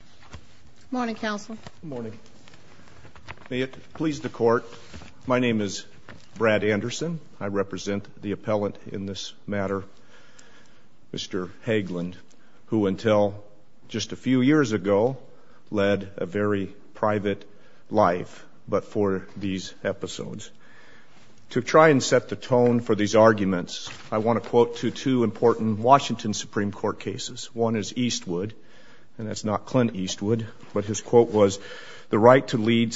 Good morning. May it please the court, my name is Brad Anderson. I represent the appellant in this matter, Mr. Haglund, who until just a few years ago, led a very private life, but for these episodes. To try and set the tone for these arguments, I want to quote to two important Washington Supreme Court cases. One is Eastwood, and that's not Clint Eastwood, but his quote was, the right to lead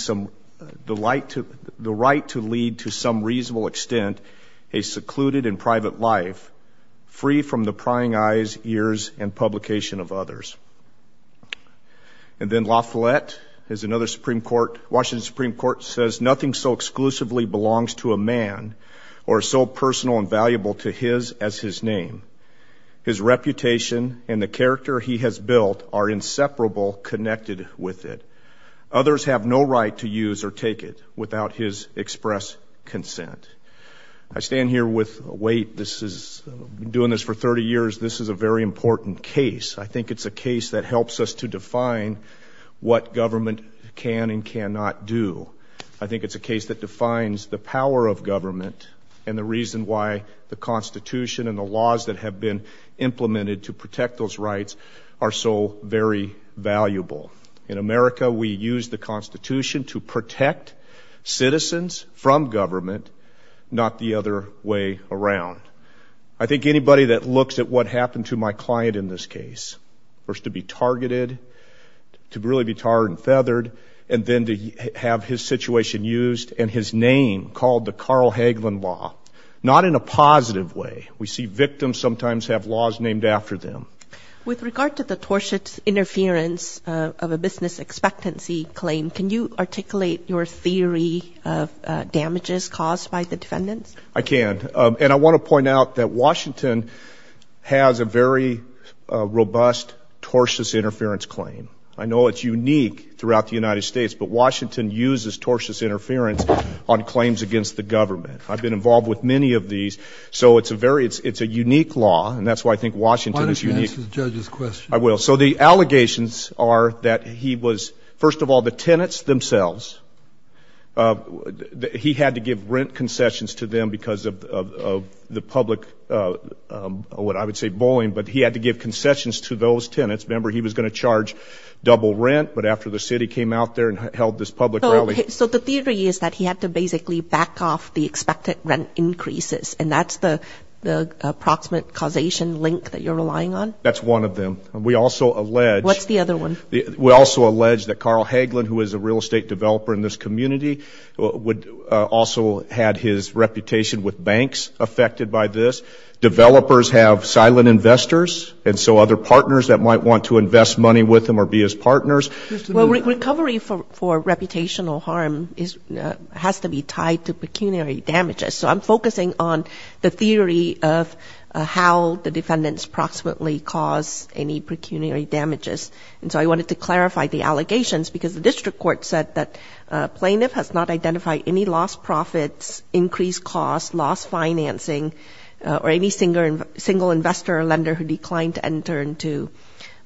to some reasonable extent a secluded and private life, free from the prying eyes, ears and publication of others. And then LaFollette is another Supreme Court, Washington Supreme Court says, nothing so exclusively belongs to a man, or so personal and valuable to his as his name. His reputation and the character he has built are inseparable connected with it. Others have no right to use or take it without his express consent. I stand here with a weight, this is doing this for 30 years, this is a very important case. I think it's a case that helps us to define what government can and cannot do. I think it's a case that defines the power of government and the reason why the Constitution and the laws that have been implemented to protect those rights are so very valuable. In America, we use the Constitution to protect citizens from government, not the other way around. I think anybody that looks at what happened to my client in this case, first to be targeted, to really be tarred and feathered, and then to have his situation used and his name called the Carl Hagelin Law, not in a positive way. We see victims sometimes have laws named after them. With regard to the torsion interference of a business expectancy claim, can you articulate your theory of damages caused by the defendants? I can. And I want to point out that Washington has a very robust torsion interference claim. I know it's unique throughout the United States, but Washington uses torsion interference on claims against the government. I've been involved with many of these, so it's a very, it's a unique law, and that's why I think Washington is unique. Why don't you answer the judge's question? I will. So the allegations are that he was, first of all, the tenants themselves, he had to give rent concessions to them because of the public, what I would say, bullying, but he had to give concessions to those tenants. Remember, he was going to charge double rent, but after the city came out there and held this public rally. So the theory is that he had to basically back off the expected rent increases, and that's the approximate causation link that you're relying on? That's one of them. We also allege... What's the other one? We also allege that Carl Hagelin, who is a real estate developer in this community, would also had his reputation with banks affected by this. Developers have silent investors, and so other partners that might want to invest money with him or be his partners. Well, recovery for reputational harm has to be tied to pecuniary damages. So I'm focusing on the theory of how the defendants proximately cause any pecuniary damages. And so I wanted to clarify the allegations because the district court said that a plaintiff has not identified any lost profits, increased costs, lost financing, or any single investor or lender who declined to enter into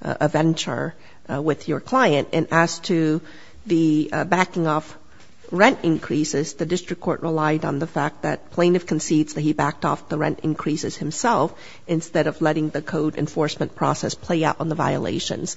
a venture with your client. And as to the backing off rent increases, the district court relied on the fact that plaintiff concedes that he backed off the rent increases himself instead of letting the code enforcement process play out on the violations.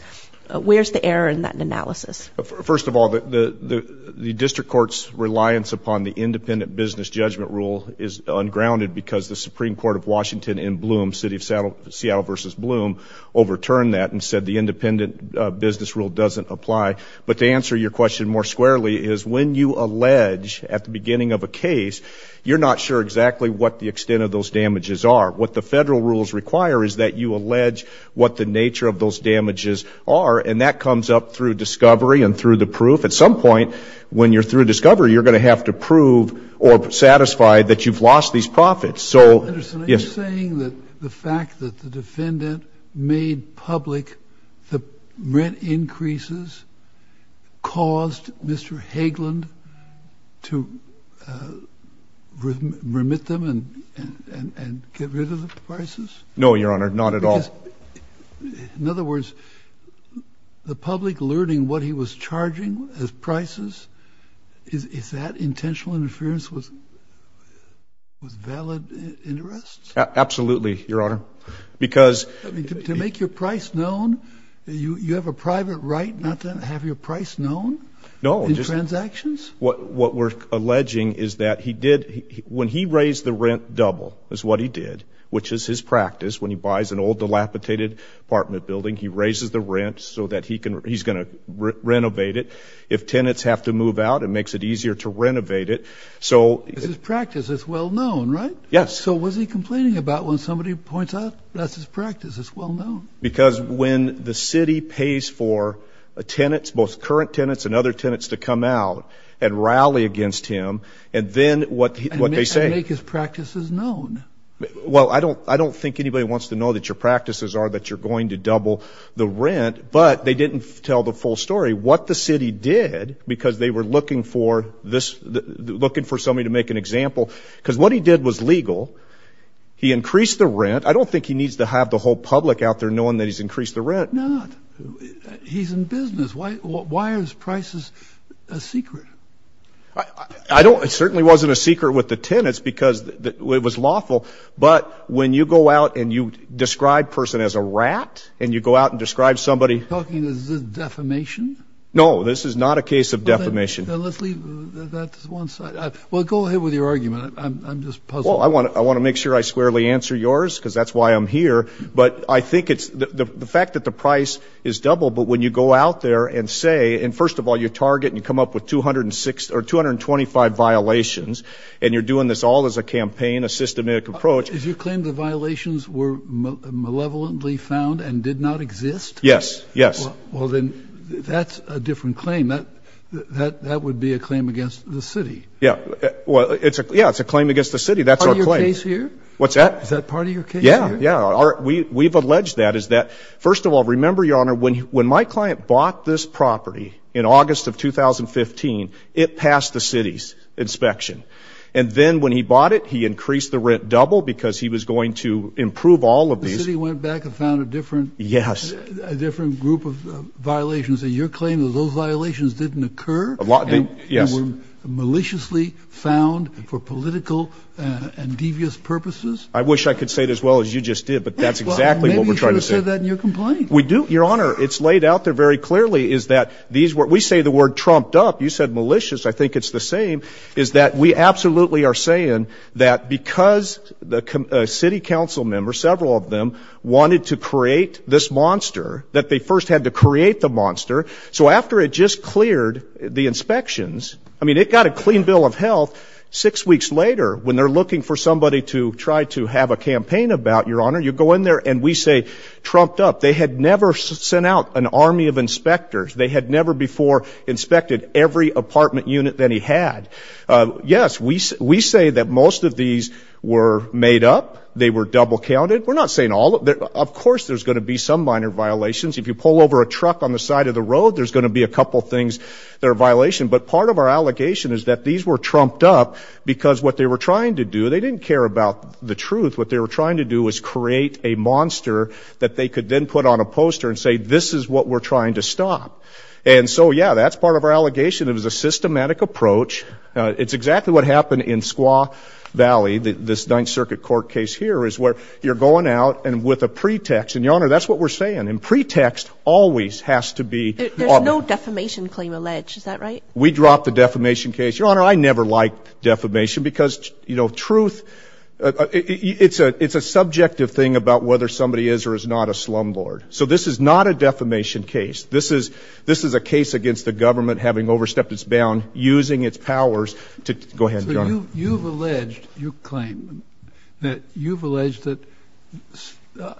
Where's the error in that analysis? First of all, the district court's reliance upon the independent business judgment rule is ungrounded because the Supreme Court of Washington in Bloom, Seattle v. Bloom, overturned that and said the independent business rule doesn't apply. But to answer your question more squarely is when you allege at the beginning of a case, you're not sure exactly what the extent of those damages are. What the federal rules require is that you allege what the and through the proof. At some point, when you're through discovery, you're going to have to prove or satisfy that you've lost these profits. So you're saying that the fact that the defendant made public the rent increases caused Mr. Hageland to remit them and get rid of the prices? No, Your Honor, not at all. In other words, the public learning what he was charging as prices, is that intentional interference with valid interests? Absolutely, Your Honor, because To make your price known, you have a private right not to have your price known in transactions? What we're alleging is that he did, when he raised the rent double, is what he did, which is his practice, when he buys an old dilapidated apartment building, he raises the rent so that he's going to renovate it. If tenants have to move out, it makes it easier to renovate it, so It's his practice, it's well-known, right? Yes. So what's he complaining about when somebody points out that's his practice, it's well-known? Because when the city pays for tenants, both current tenants and other tenants, to come out and rally against him, and then what they say And make his practices known? Well, I don't think anybody wants to know that your practices are that you're going to double the rent, but they didn't tell the full story, what the city did, because they were looking for somebody to make an example, because what he did was legal, he increased the rent, I don't think he needs to have the whole public out there knowing that he's increased the rent No, he's in business, why is prices a secret? I don't, it certainly wasn't a secret with the tenants, because it was lawful, but when you go out and you describe a person as a rat, and you go out and describe somebody Are you talking, is this defamation? No, this is not a case of defamation Then let's leave, that's one side, well go ahead with your argument, I'm just puzzled Well, I want to make sure I squarely answer yours, because that's why I'm here, but I think it's, the fact that the price is doubled, but when you go out there and say, and first of all you target, and you come up with 225 violations, and you're doing this all as a campaign, a systematic approach Did you claim the violations were malevolently found, and did not exist? Yes, yes Well then, that's a different claim, that would be a claim against the city Yeah, well, it's a claim against the city, that's our claim Is that part of your case here? What's that? Is that part of your case here? Yeah, yeah, we've alleged that, is that, first of all, remember your honor, when my client bought this property in August of 2015, it passed the city's inspection, and then when he bought it, he increased the rent double, because he was going to improve all of these The city went back and found a different Yes A different group of violations, and your claim is those violations didn't occur? A lot didn't, yes And were maliciously found for political and devious purposes? I wish I could say it as well as you just did, but that's exactly what we're trying to say Well, maybe you should have said that in your complaint We do, your honor, it's laid out there very clearly, is that these were, we say the word trumped up, you said malicious, I think it's the same, is that we absolutely are saying that because a city council member, several of them, wanted to create this monster, that they first had to create the monster, so after it just cleared the inspections, I mean it got a clean bill of health, six weeks later, when they're looking for somebody to try to have a campaign about, your honor, you go in there and we say trumped up, they had never sent out an army of inspectors, they had never before inspected every apartment unit that he had Yes, we say that most of these were made up, they were double counted, we're not saying all of them, of course there's going to be some minor violations, if you pull over a truck on the side of the road, there's going to be a couple things that are a violation, but part of our allegation is that these were trumped up, because what they were trying to do, they didn't care about the truth, what they were trying to do was create a monster that they could then put on a poster and say this is what we're trying to stop, and so yeah, that's part of our allegation, it was a systematic approach, it's exactly what happened in Squaw Valley, this Ninth Circuit Court case here, is where you're going out and with a pretext, and your honor, that's what we're saying, and pretext always has to be There's no defamation claim alleged, is that right? We dropped the defamation case, your honor, I never liked defamation, because truth, it's a subjective thing about whether somebody is or is not a slumlord, so this is not a defamation case, this is a case against the government having overstepped its bound, using its powers to, go ahead, your honor You've alleged, you claim, that you've alleged that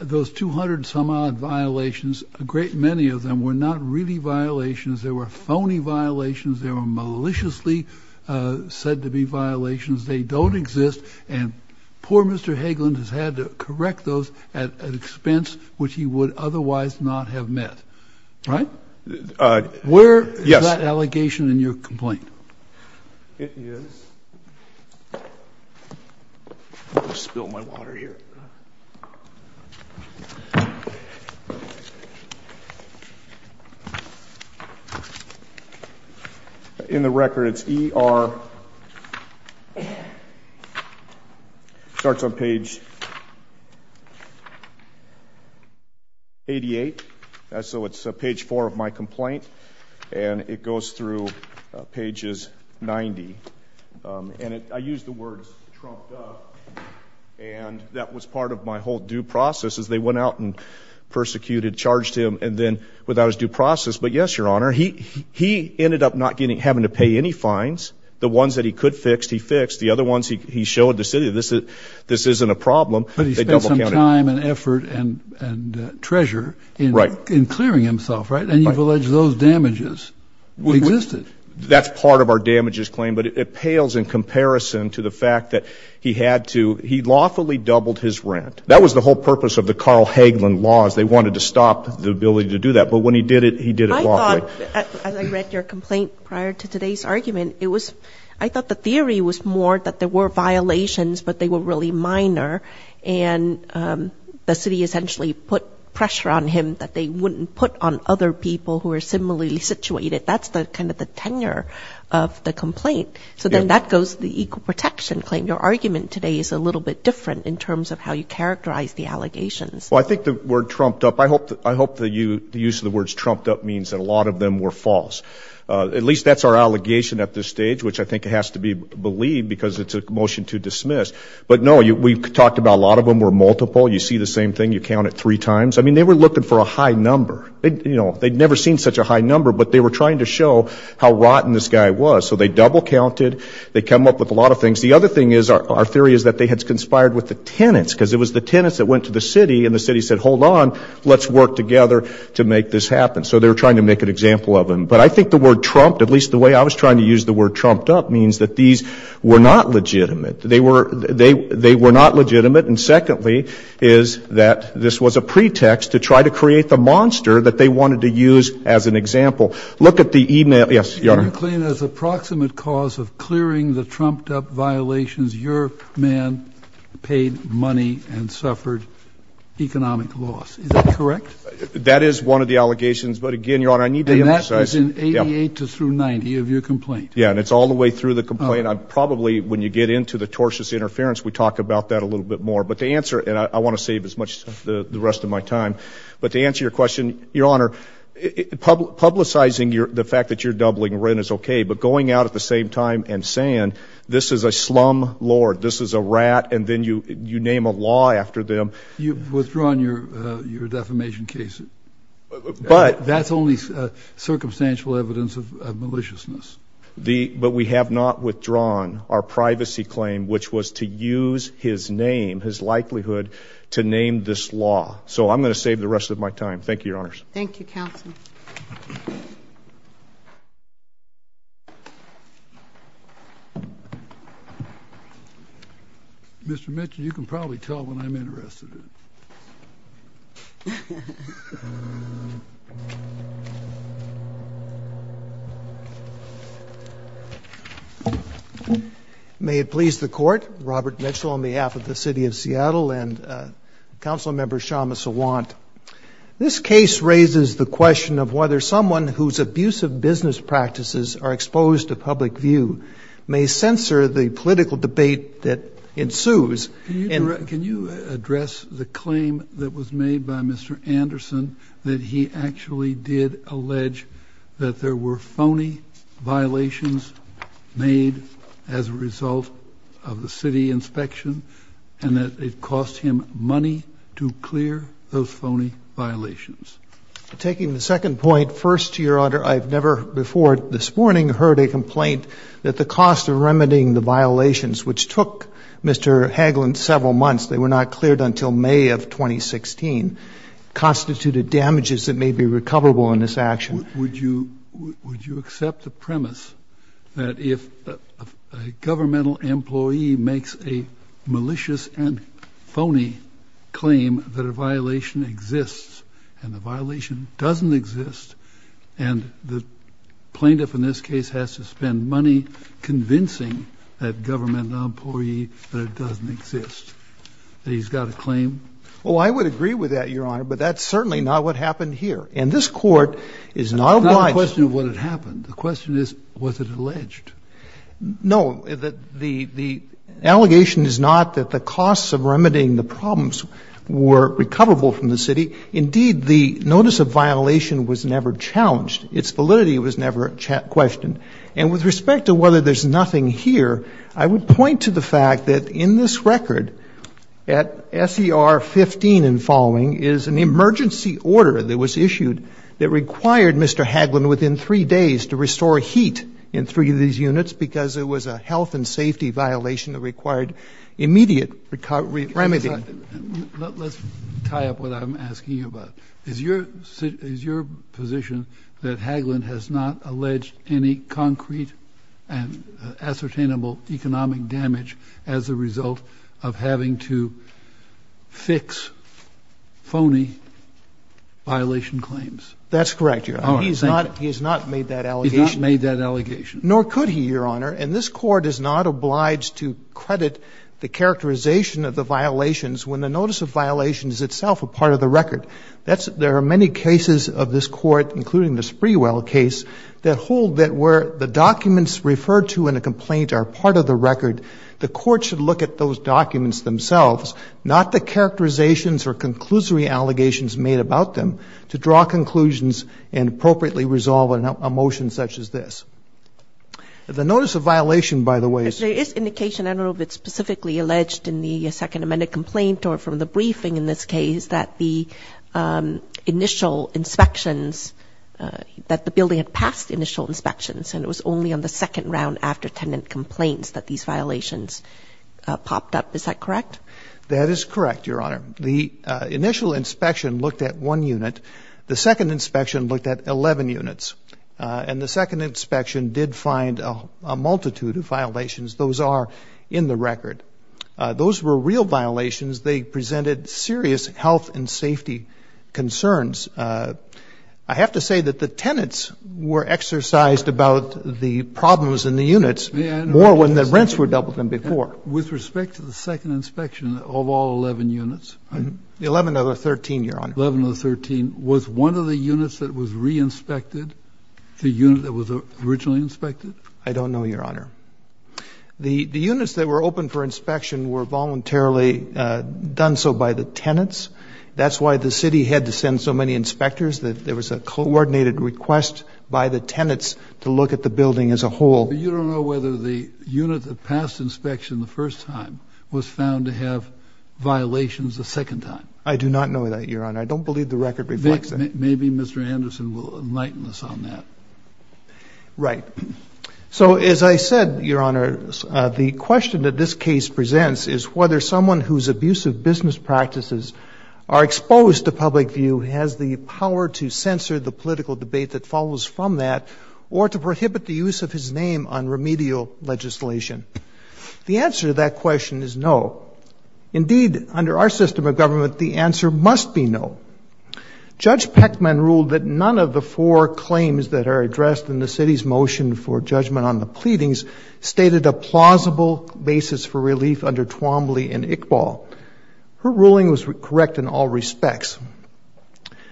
those 200 some odd violations, a great many of them, were not really violations, they were phony violations, they were maliciously said to be violations, they don't exist, and poor Mr. Hagelund has had to correct those at an expense which he would otherwise not have met, right? Where is that allegation in your complaint? It is, let me spill my water here In the record, it's ER, starts on page 88, so it's page 4 of my complaint, and it goes through pages 90, and I use the words trumped up, and that was part of my whole due process as they went out and persecuted, charged him, and then without his due process, but yes, your honor, he ended up not getting, having to pay any fines, the ones that he could fix, he fixed, the other ones he showed the city, this isn't a problem But he spent some time and effort and treasure in clearing himself, right, and you've alleged those damages existed That's part of our damages claim, but it pales in comparison to the fact that he had to, he lawfully doubled his rent, that was the whole purpose of the Carl Hagelund laws, they wanted to stop the ability to do that, but when he did it, he did it lawfully I thought, as I read your complaint prior to today's argument, I thought the theory was more that there were violations, but they were really minor, and the city essentially put pressure on him that they wouldn't put on other people who were similarly situated, that's kind of the tenure of the complaint, so then that goes to the equal protection claim, your argument today is a little bit different in terms of how you characterize the allegations Well I think the word trumped up, I hope the use of the words trumped up means that a lot of them were false, at least that's our allegation at this stage, which I think has to be believed because it's a motion to dismiss, but no, we talked about a lot of them were multiple, you see the same thing, you count it three times, I mean they were looking for a high number, they'd never seen such a high number, but they were trying to show how rotten this guy was, so they double counted, they come up with a lot of things, the other thing is, our theory is that they had conspired with the tenants, because it was the tenants that went to the city, and the city said, hold on, let's work together to make this happen, so they were trying to make an example of him, but I think the word trumped, at least the way I was trying to use the word trumped up means that these were not legitimate, they were not trying to create a monster that they wanted to use as an example, look at the email, yes, your honor. You claim as approximate cause of clearing the trumped up violations, your man paid money and suffered economic loss, is that correct? That is one of the allegations, but again, your honor, I need to emphasize. And that was in 88 through 90 of your complaint. Yeah, and it's all the way through the complaint, probably when you get into the tortious interference, we talk about that a little bit more, but to answer, and I want to save as much of the rest of my time, but to answer your question, your honor, publicizing the fact that you're doubling rent is okay, but going out at the same time and saying, this is a slumlord, this is a rat, and then you name a law after them. You've withdrawn your defamation case, that's only circumstantial evidence of maliciousness. But we have not withdrawn our privacy claim, which was to use his name, his likelihood to name this law. So I'm going to save the rest of my time. Thank you, your honors. Thank you, counsel. Mr. Mitchell, you can probably tell when I'm interested in it. May it please the court, Robert Mitchell on behalf of the city of Seattle and council member Shama Sawant. This case raises the question of whether someone whose abusive business practices are exposed to public view may censor the political debate that ensues. Can you address the claim that was made by Mr. Anderson, that he actually did allege that there were phony violations made as a result of the city inspection and that it cost him money to clear those phony violations? Taking the second point, first, your honor, I've never before this morning heard a complaint that the cost of remedying the violations, which took Mr. Hagelin several months, they were not cleared until May of 2016, constituted damages that may be recoverable in this action. Would you accept the premise that if a governmental employee makes a malicious and phony claim that a violation exists and the violation doesn't exist and the plaintiff in this case has to spend money convincing that government employee that it doesn't exist, that he's got a claim? Oh, I would agree with that, your honor, but that's certainly not what happened here. And this court is not obliged. It's not a question of what had happened. The question is, was it alleged? No, the allegation is not that the costs of remedying the problems were recoverable from the city. Indeed, the notice of violation was never challenged. Its validity was never questioned. And with respect to whether there's nothing here, I would point to the fact that in this record at SER 15 and following is an emergency order that was issued that required Mr. Hagelin within three days to restore heat in three of these units because it was a health and safety violation that required immediate remedy. Let's tie up what I'm asking you about. Is your position that Hagelin has not alleged any concrete and ascertainable economic damage as a result of having to fix phony violation claims? That's correct, your honor. He's not made that allegation. Nor could he, your honor. And this court is not obliged to credit the characterization of the violations when the notice of violation is itself a part of the record. There are many cases of this court, including the Sprewell case, that hold that where the documents referred to in a complaint are part of the record, the court should look at those documents themselves, not the characterizations or conclusory allegations made about them, to draw conclusions and appropriately resolve a motion such as this. The notice of violation, by the way — But there is indication, I don't know if it's specifically alleged in the Second Roofing in this case, that the initial inspections — that the building had passed initial inspections and it was only on the second round after tenant complaints that these violations popped up. Is that correct? That is correct, your honor. The initial inspection looked at one unit. The second inspection looked at 11 units. And the second inspection did find a multitude of violations. Those are in the record. Those were real violations. They presented serious health and safety concerns. I have to say that the tenants were exercised about the problems in the units more when the rents were doubled than before. With respect to the second inspection of all 11 units? The 11 of the 13, your honor. The 11 of the 13. Was one of the units that was reinspected the unit that was originally inspected? I don't know, your honor. The units that were open for inspection were voluntarily done so by the tenants. That's why the city had to send so many inspectors. There was a coordinated request by the tenants to look at the building as a whole. But you don't know whether the unit that passed inspection the first time was found to have violations the second time? I do not know that, your honor. I don't believe the record reflects that. Maybe Mr. Anderson will enlighten us on that. Right. So as I said, your honor, the question that this case presents is whether someone whose abusive business practices are exposed to public view has the power to censor the political debate that follows from that or to prohibit the use of his name on remedial legislation. The answer to that question is no. Indeed, under our system of government, the answer must be no. Judge Peckman ruled that none of the four claims that are addressed in the city's motion for judgment on the pleadings stated a plausible basis for relief under Twombly and Iqbal. Her ruling was correct in all respects.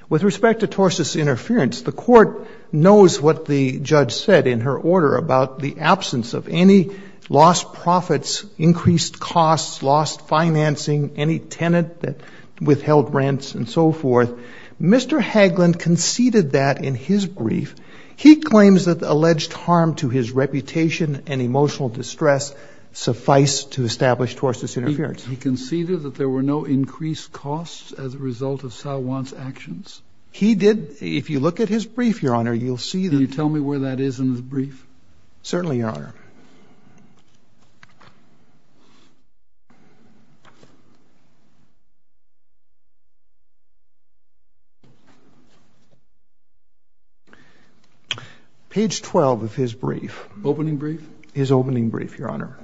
With respect to Torses' interference, the court knows what the judge said in her order about the absence of any lost profits, increased costs, lost financing, any tenant that withheld rents and so forth. Mr. Hagland conceded that in his brief. He claims that the alleged harm to his reputation and emotional distress suffice to establish Torses' interference. He conceded that there were no increased costs as a result of Salwan's actions? He did. If you look at his brief, your honor, you'll see that. Can you tell me where that is in his brief? Certainly, your honor. Page 12 of his brief. Opening brief? His opening brief, your honor.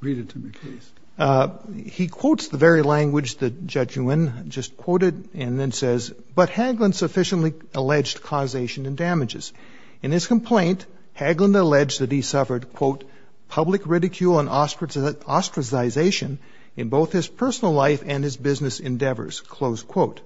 Read it to me, please. He quotes the very language that Judge Nguyen just quoted and then says, but Hagland sufficiently alleged causation and damages. In his complaint, Hagland alleged that he suffered, quote, public ridicule and ostracization in both his personal life and his business endeavors, close quote.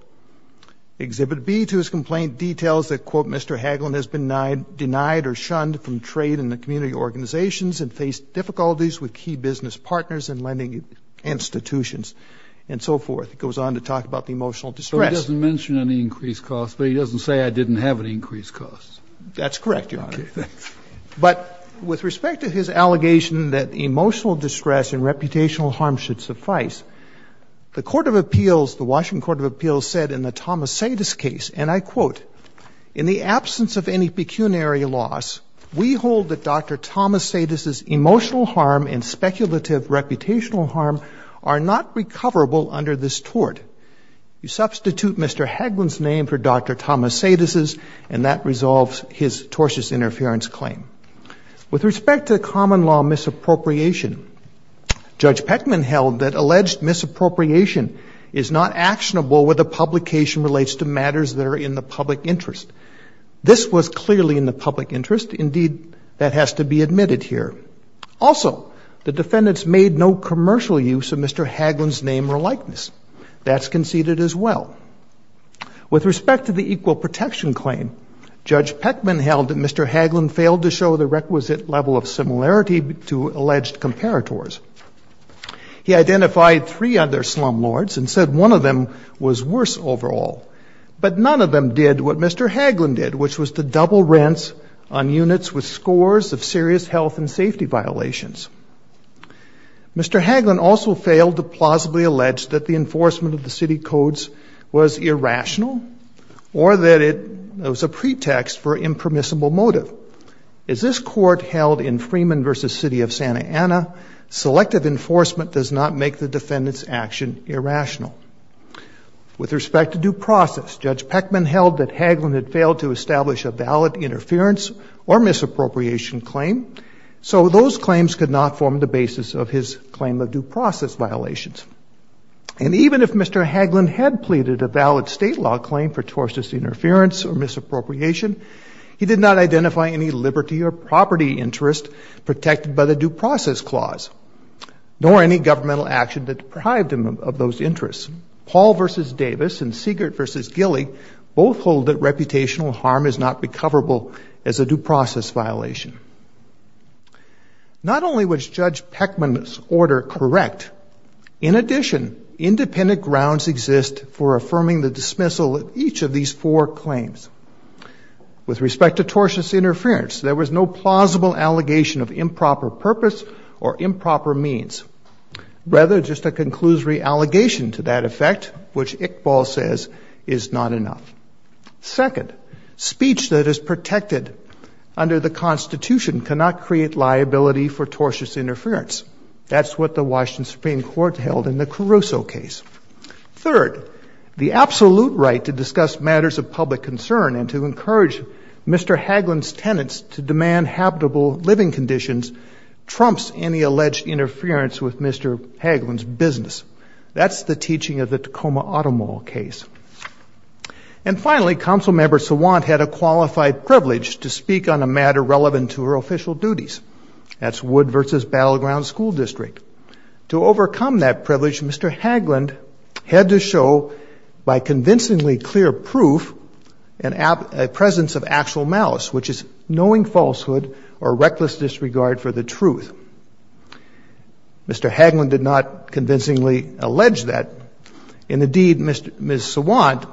Exhibit B to his complaint details that, quote, Mr. Hagland has been denied or shunned from trade and the community organizations and faced difficulties with key business partners and lending institutions and so forth. It goes on to talk about the emotional distress. So he doesn't mention any increased costs, but he doesn't say I didn't have any increased costs? That's correct, your honor. But with respect to his allegation that emotional distress and reputational harm should suffice, the Washington Court of Appeals said in the Thomas Sadas case, and I quote, in the absence of any pecuniary loss, we hold that Dr. Thomas Sadas's emotional harm and speculative reputational harm are not recoverable under this tort. You substitute Mr. Hagland's name for Dr. Thomas Sadas's, and that resolves his tortious interference claim. With respect to common law misappropriation, Judge Peckman held that alleged misappropriation is not actionable with a publication relates to matters that are in the public interest. This was clearly in the public interest. Indeed, that has to be admitted here. Also, the defendants made no commercial use of Mr. Hagland's name or likeness. That's conceded as well. With respect to the equal protection claim, Judge Peckman held that Mr. Hagland failed to show the requisite level of similarity to alleged comparators. He identified three other slumlords and said one of them was worse overall. But none of them did what Mr. Hagland did, which was to double rents on units with scores of serious health and safety violations. Mr. Hagland also failed to plausibly allege that the enforcement of the city codes was irrational or that it was a pretext for impermissible motive. As this court held in Freeman versus City of Santa Ana, selective enforcement does not make the defendant's action irrational. With respect to due process, Judge Peckman held that Hagland had failed to establish a valid interference or misappropriation claim. So those claims could not form the basis of his claim of due process violations. And even if Mr. Hagland had pleaded a valid state law claim for tortious interference or misappropriation, he did not identify any liberty or property interest protected by the due process clause, nor any governmental action that deprived him of those interests. Paul versus Davis and Siegert versus Gilley both hold that reputational harm is not recoverable as a due process violation. Not only was Judge Peckman's order correct, in addition, independent grounds exist for affirming the dismissal of each of these four claims. With respect to tortious interference, there was no plausible allegation of improper purpose or improper means, rather just a conclusory allegation to that effect, which Iqbal says is not enough. Second, speech that is protected under the Constitution cannot create liability for tortious interference. That's what the Washington Supreme Court held in the Caruso case. Third, the absolute right to discuss matters of public concern and to encourage Mr. Hagland's tenants to demand habitable living conditions trumps any alleged interference with Mr. Hagland's business. That's the teaching of the Tacoma Auto Mall case. And finally, Council Member Sawant had a qualified privilege to speak on a matter relevant to her official duties. That's Wood versus Battleground School District. To overcome that privilege, Mr. Hagland had to show by convincingly clear proof a presence of actual malice, which is knowing falsehood or reckless disregard for the truth. Mr. Hagland did not convincingly allege that. And indeed, Ms. Sawant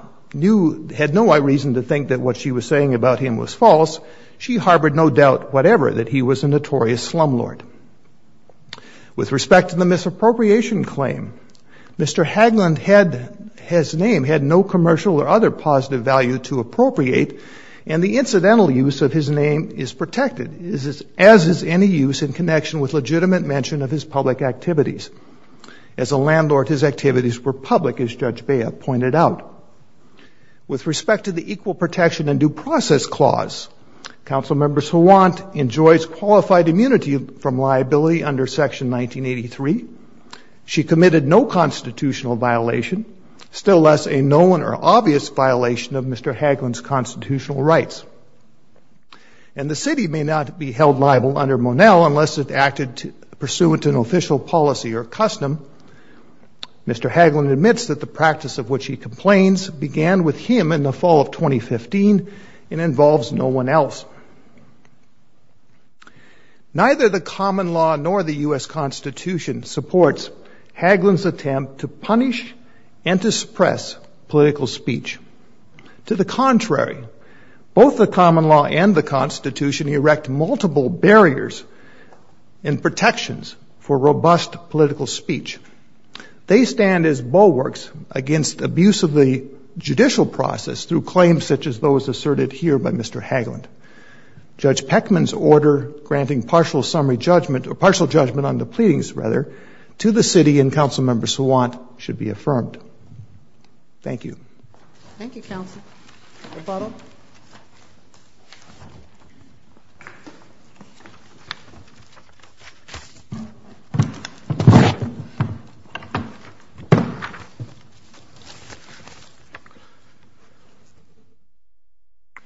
had no reason to think that what she was saying about him was false. She harbored no doubt whatever that he was a notorious slumlord. With respect to the misappropriation claim, Mr. Hagland had his name, had no commercial or other positive value to appropriate, and the incidental use of his name is protected, as is any use in connection with legitimate mention of his public activities. As a landlord, his activities were public, as Judge Bea pointed out. With respect to the Equal Protection and Due Process Clause, Council Member Sawant enjoys qualified immunity from liability under Section 1983. She committed no constitutional violation, still less a known or obvious violation of Mr. Hagland's constitutional rights. And the city may not be held liable under Monell unless it acted pursuant to an official policy or custom. Mr. Hagland admits that the practice of which he complains began with him in the fall of 2015 and involves no one else. Neither the common law nor the U.S. Constitution supports Hagland's attempt to punish and to suppress political speech. To the contrary, both the common law and the Constitution erect multiple barriers and protections for robust political speech. They stand as bulwarks against abuse of the judicial process through claims such as those asserted here by Mr. Hagland. Judge Peckman's order granting partial summary judgment, or partial judgment on the pleadings, rather, to the city and Council Member Sawant should be affirmed. Thank you. Thank you, counsel. Rebuttal.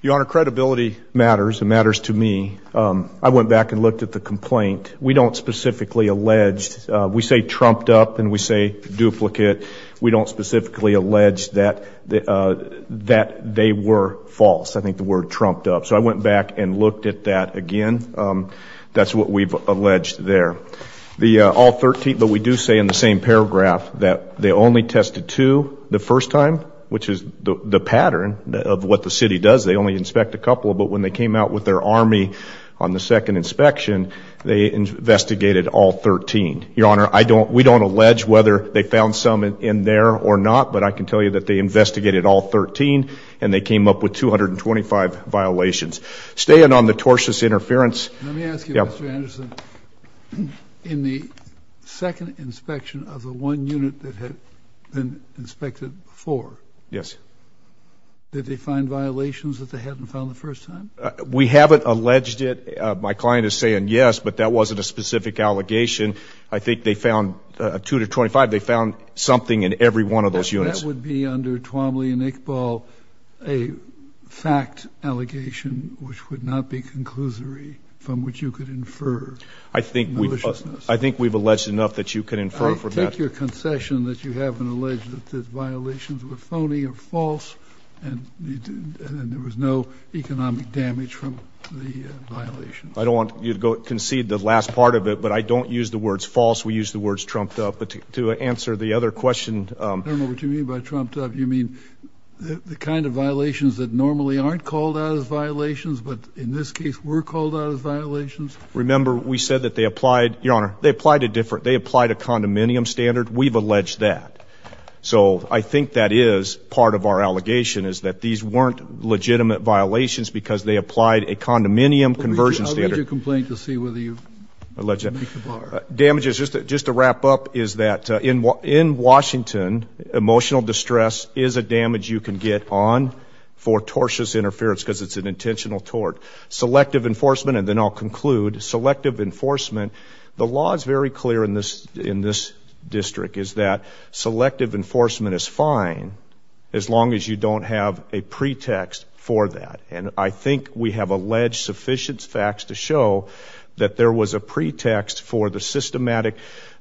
Your Honor, credibility matters. It matters to me. I went back and looked at the complaint. We don't specifically allege. We say trumped up and we say duplicate. We don't specifically allege that they were false. I think the word trumped up. So I went back and looked at that again. That's what we've alleged there. All 13, but we do say in the same paragraph that they only tested two the first time, which is the pattern of what the city does. They only inspect a couple. But when they came out with their army on the second inspection, they investigated all 13. Your Honor, we don't allege whether they found some in there or not. But I can tell you that they investigated all 13 and they came up with 225 violations. Staying on the tortious interference. Let me ask you, Mr. Anderson, in the second inspection of the one unit that had been inspected before, did they find violations that they hadn't found the first time? We haven't alleged it. My client is saying yes, but that wasn't a specific allegation. I think they found 225. They found something in every one of those units. That would be under Twombly and Iqbal a fact allegation which would not be conclusory from which you could infer maliciousness. I think we've alleged enough that you can infer from that. I take your concession that you haven't alleged that the violations were phony or false and there was no economic damage from the violations. I don't want you to concede the last part of it, but I don't use the words false. We use the words trumped up. But to answer the other question. I don't know what you mean by trumped up. You mean the kind of violations that normally aren't called out as violations, but in this case were called out as violations? Remember, we said that they applied a condominium standard. We've alleged that. So I think that is part of our allegation is that these weren't legitimate violations because they applied a condominium conversion standard. I'll read your complaint to see whether you make the bar. Damages, just to wrap up, is that in Washington, emotional distress is a damage you can get on for tortious interference because it's an intentional tort. Selective enforcement, and then I'll conclude, selective enforcement. The law is very clear in this district is that selective enforcement is fine as long as you don't have a pretext for that. And I think we have alleged sufficient facts to show that there was a pretext for the systematic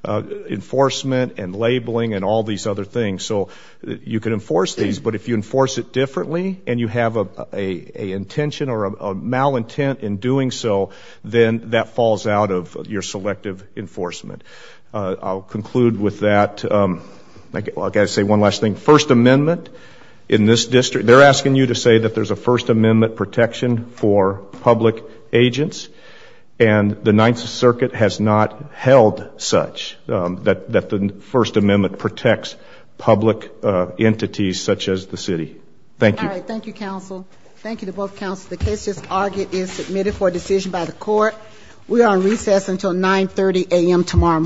enforcement and labeling and all these other things. So you can enforce these, but if you enforce it differently and you have a intention or a malintent in doing so, then that falls out of your selective enforcement. I'll conclude with that. I'll say one last thing. First Amendment in this district, they're asking you to say that there's a First Amendment protection for public agents, and the Ninth Circuit has not First Amendment protects public entities such as the city. Thank you. Thank you, counsel. Thank you to both counsel. The case just argued is submitted for decision by the court. We are on recess until 930 AM tomorrow morning.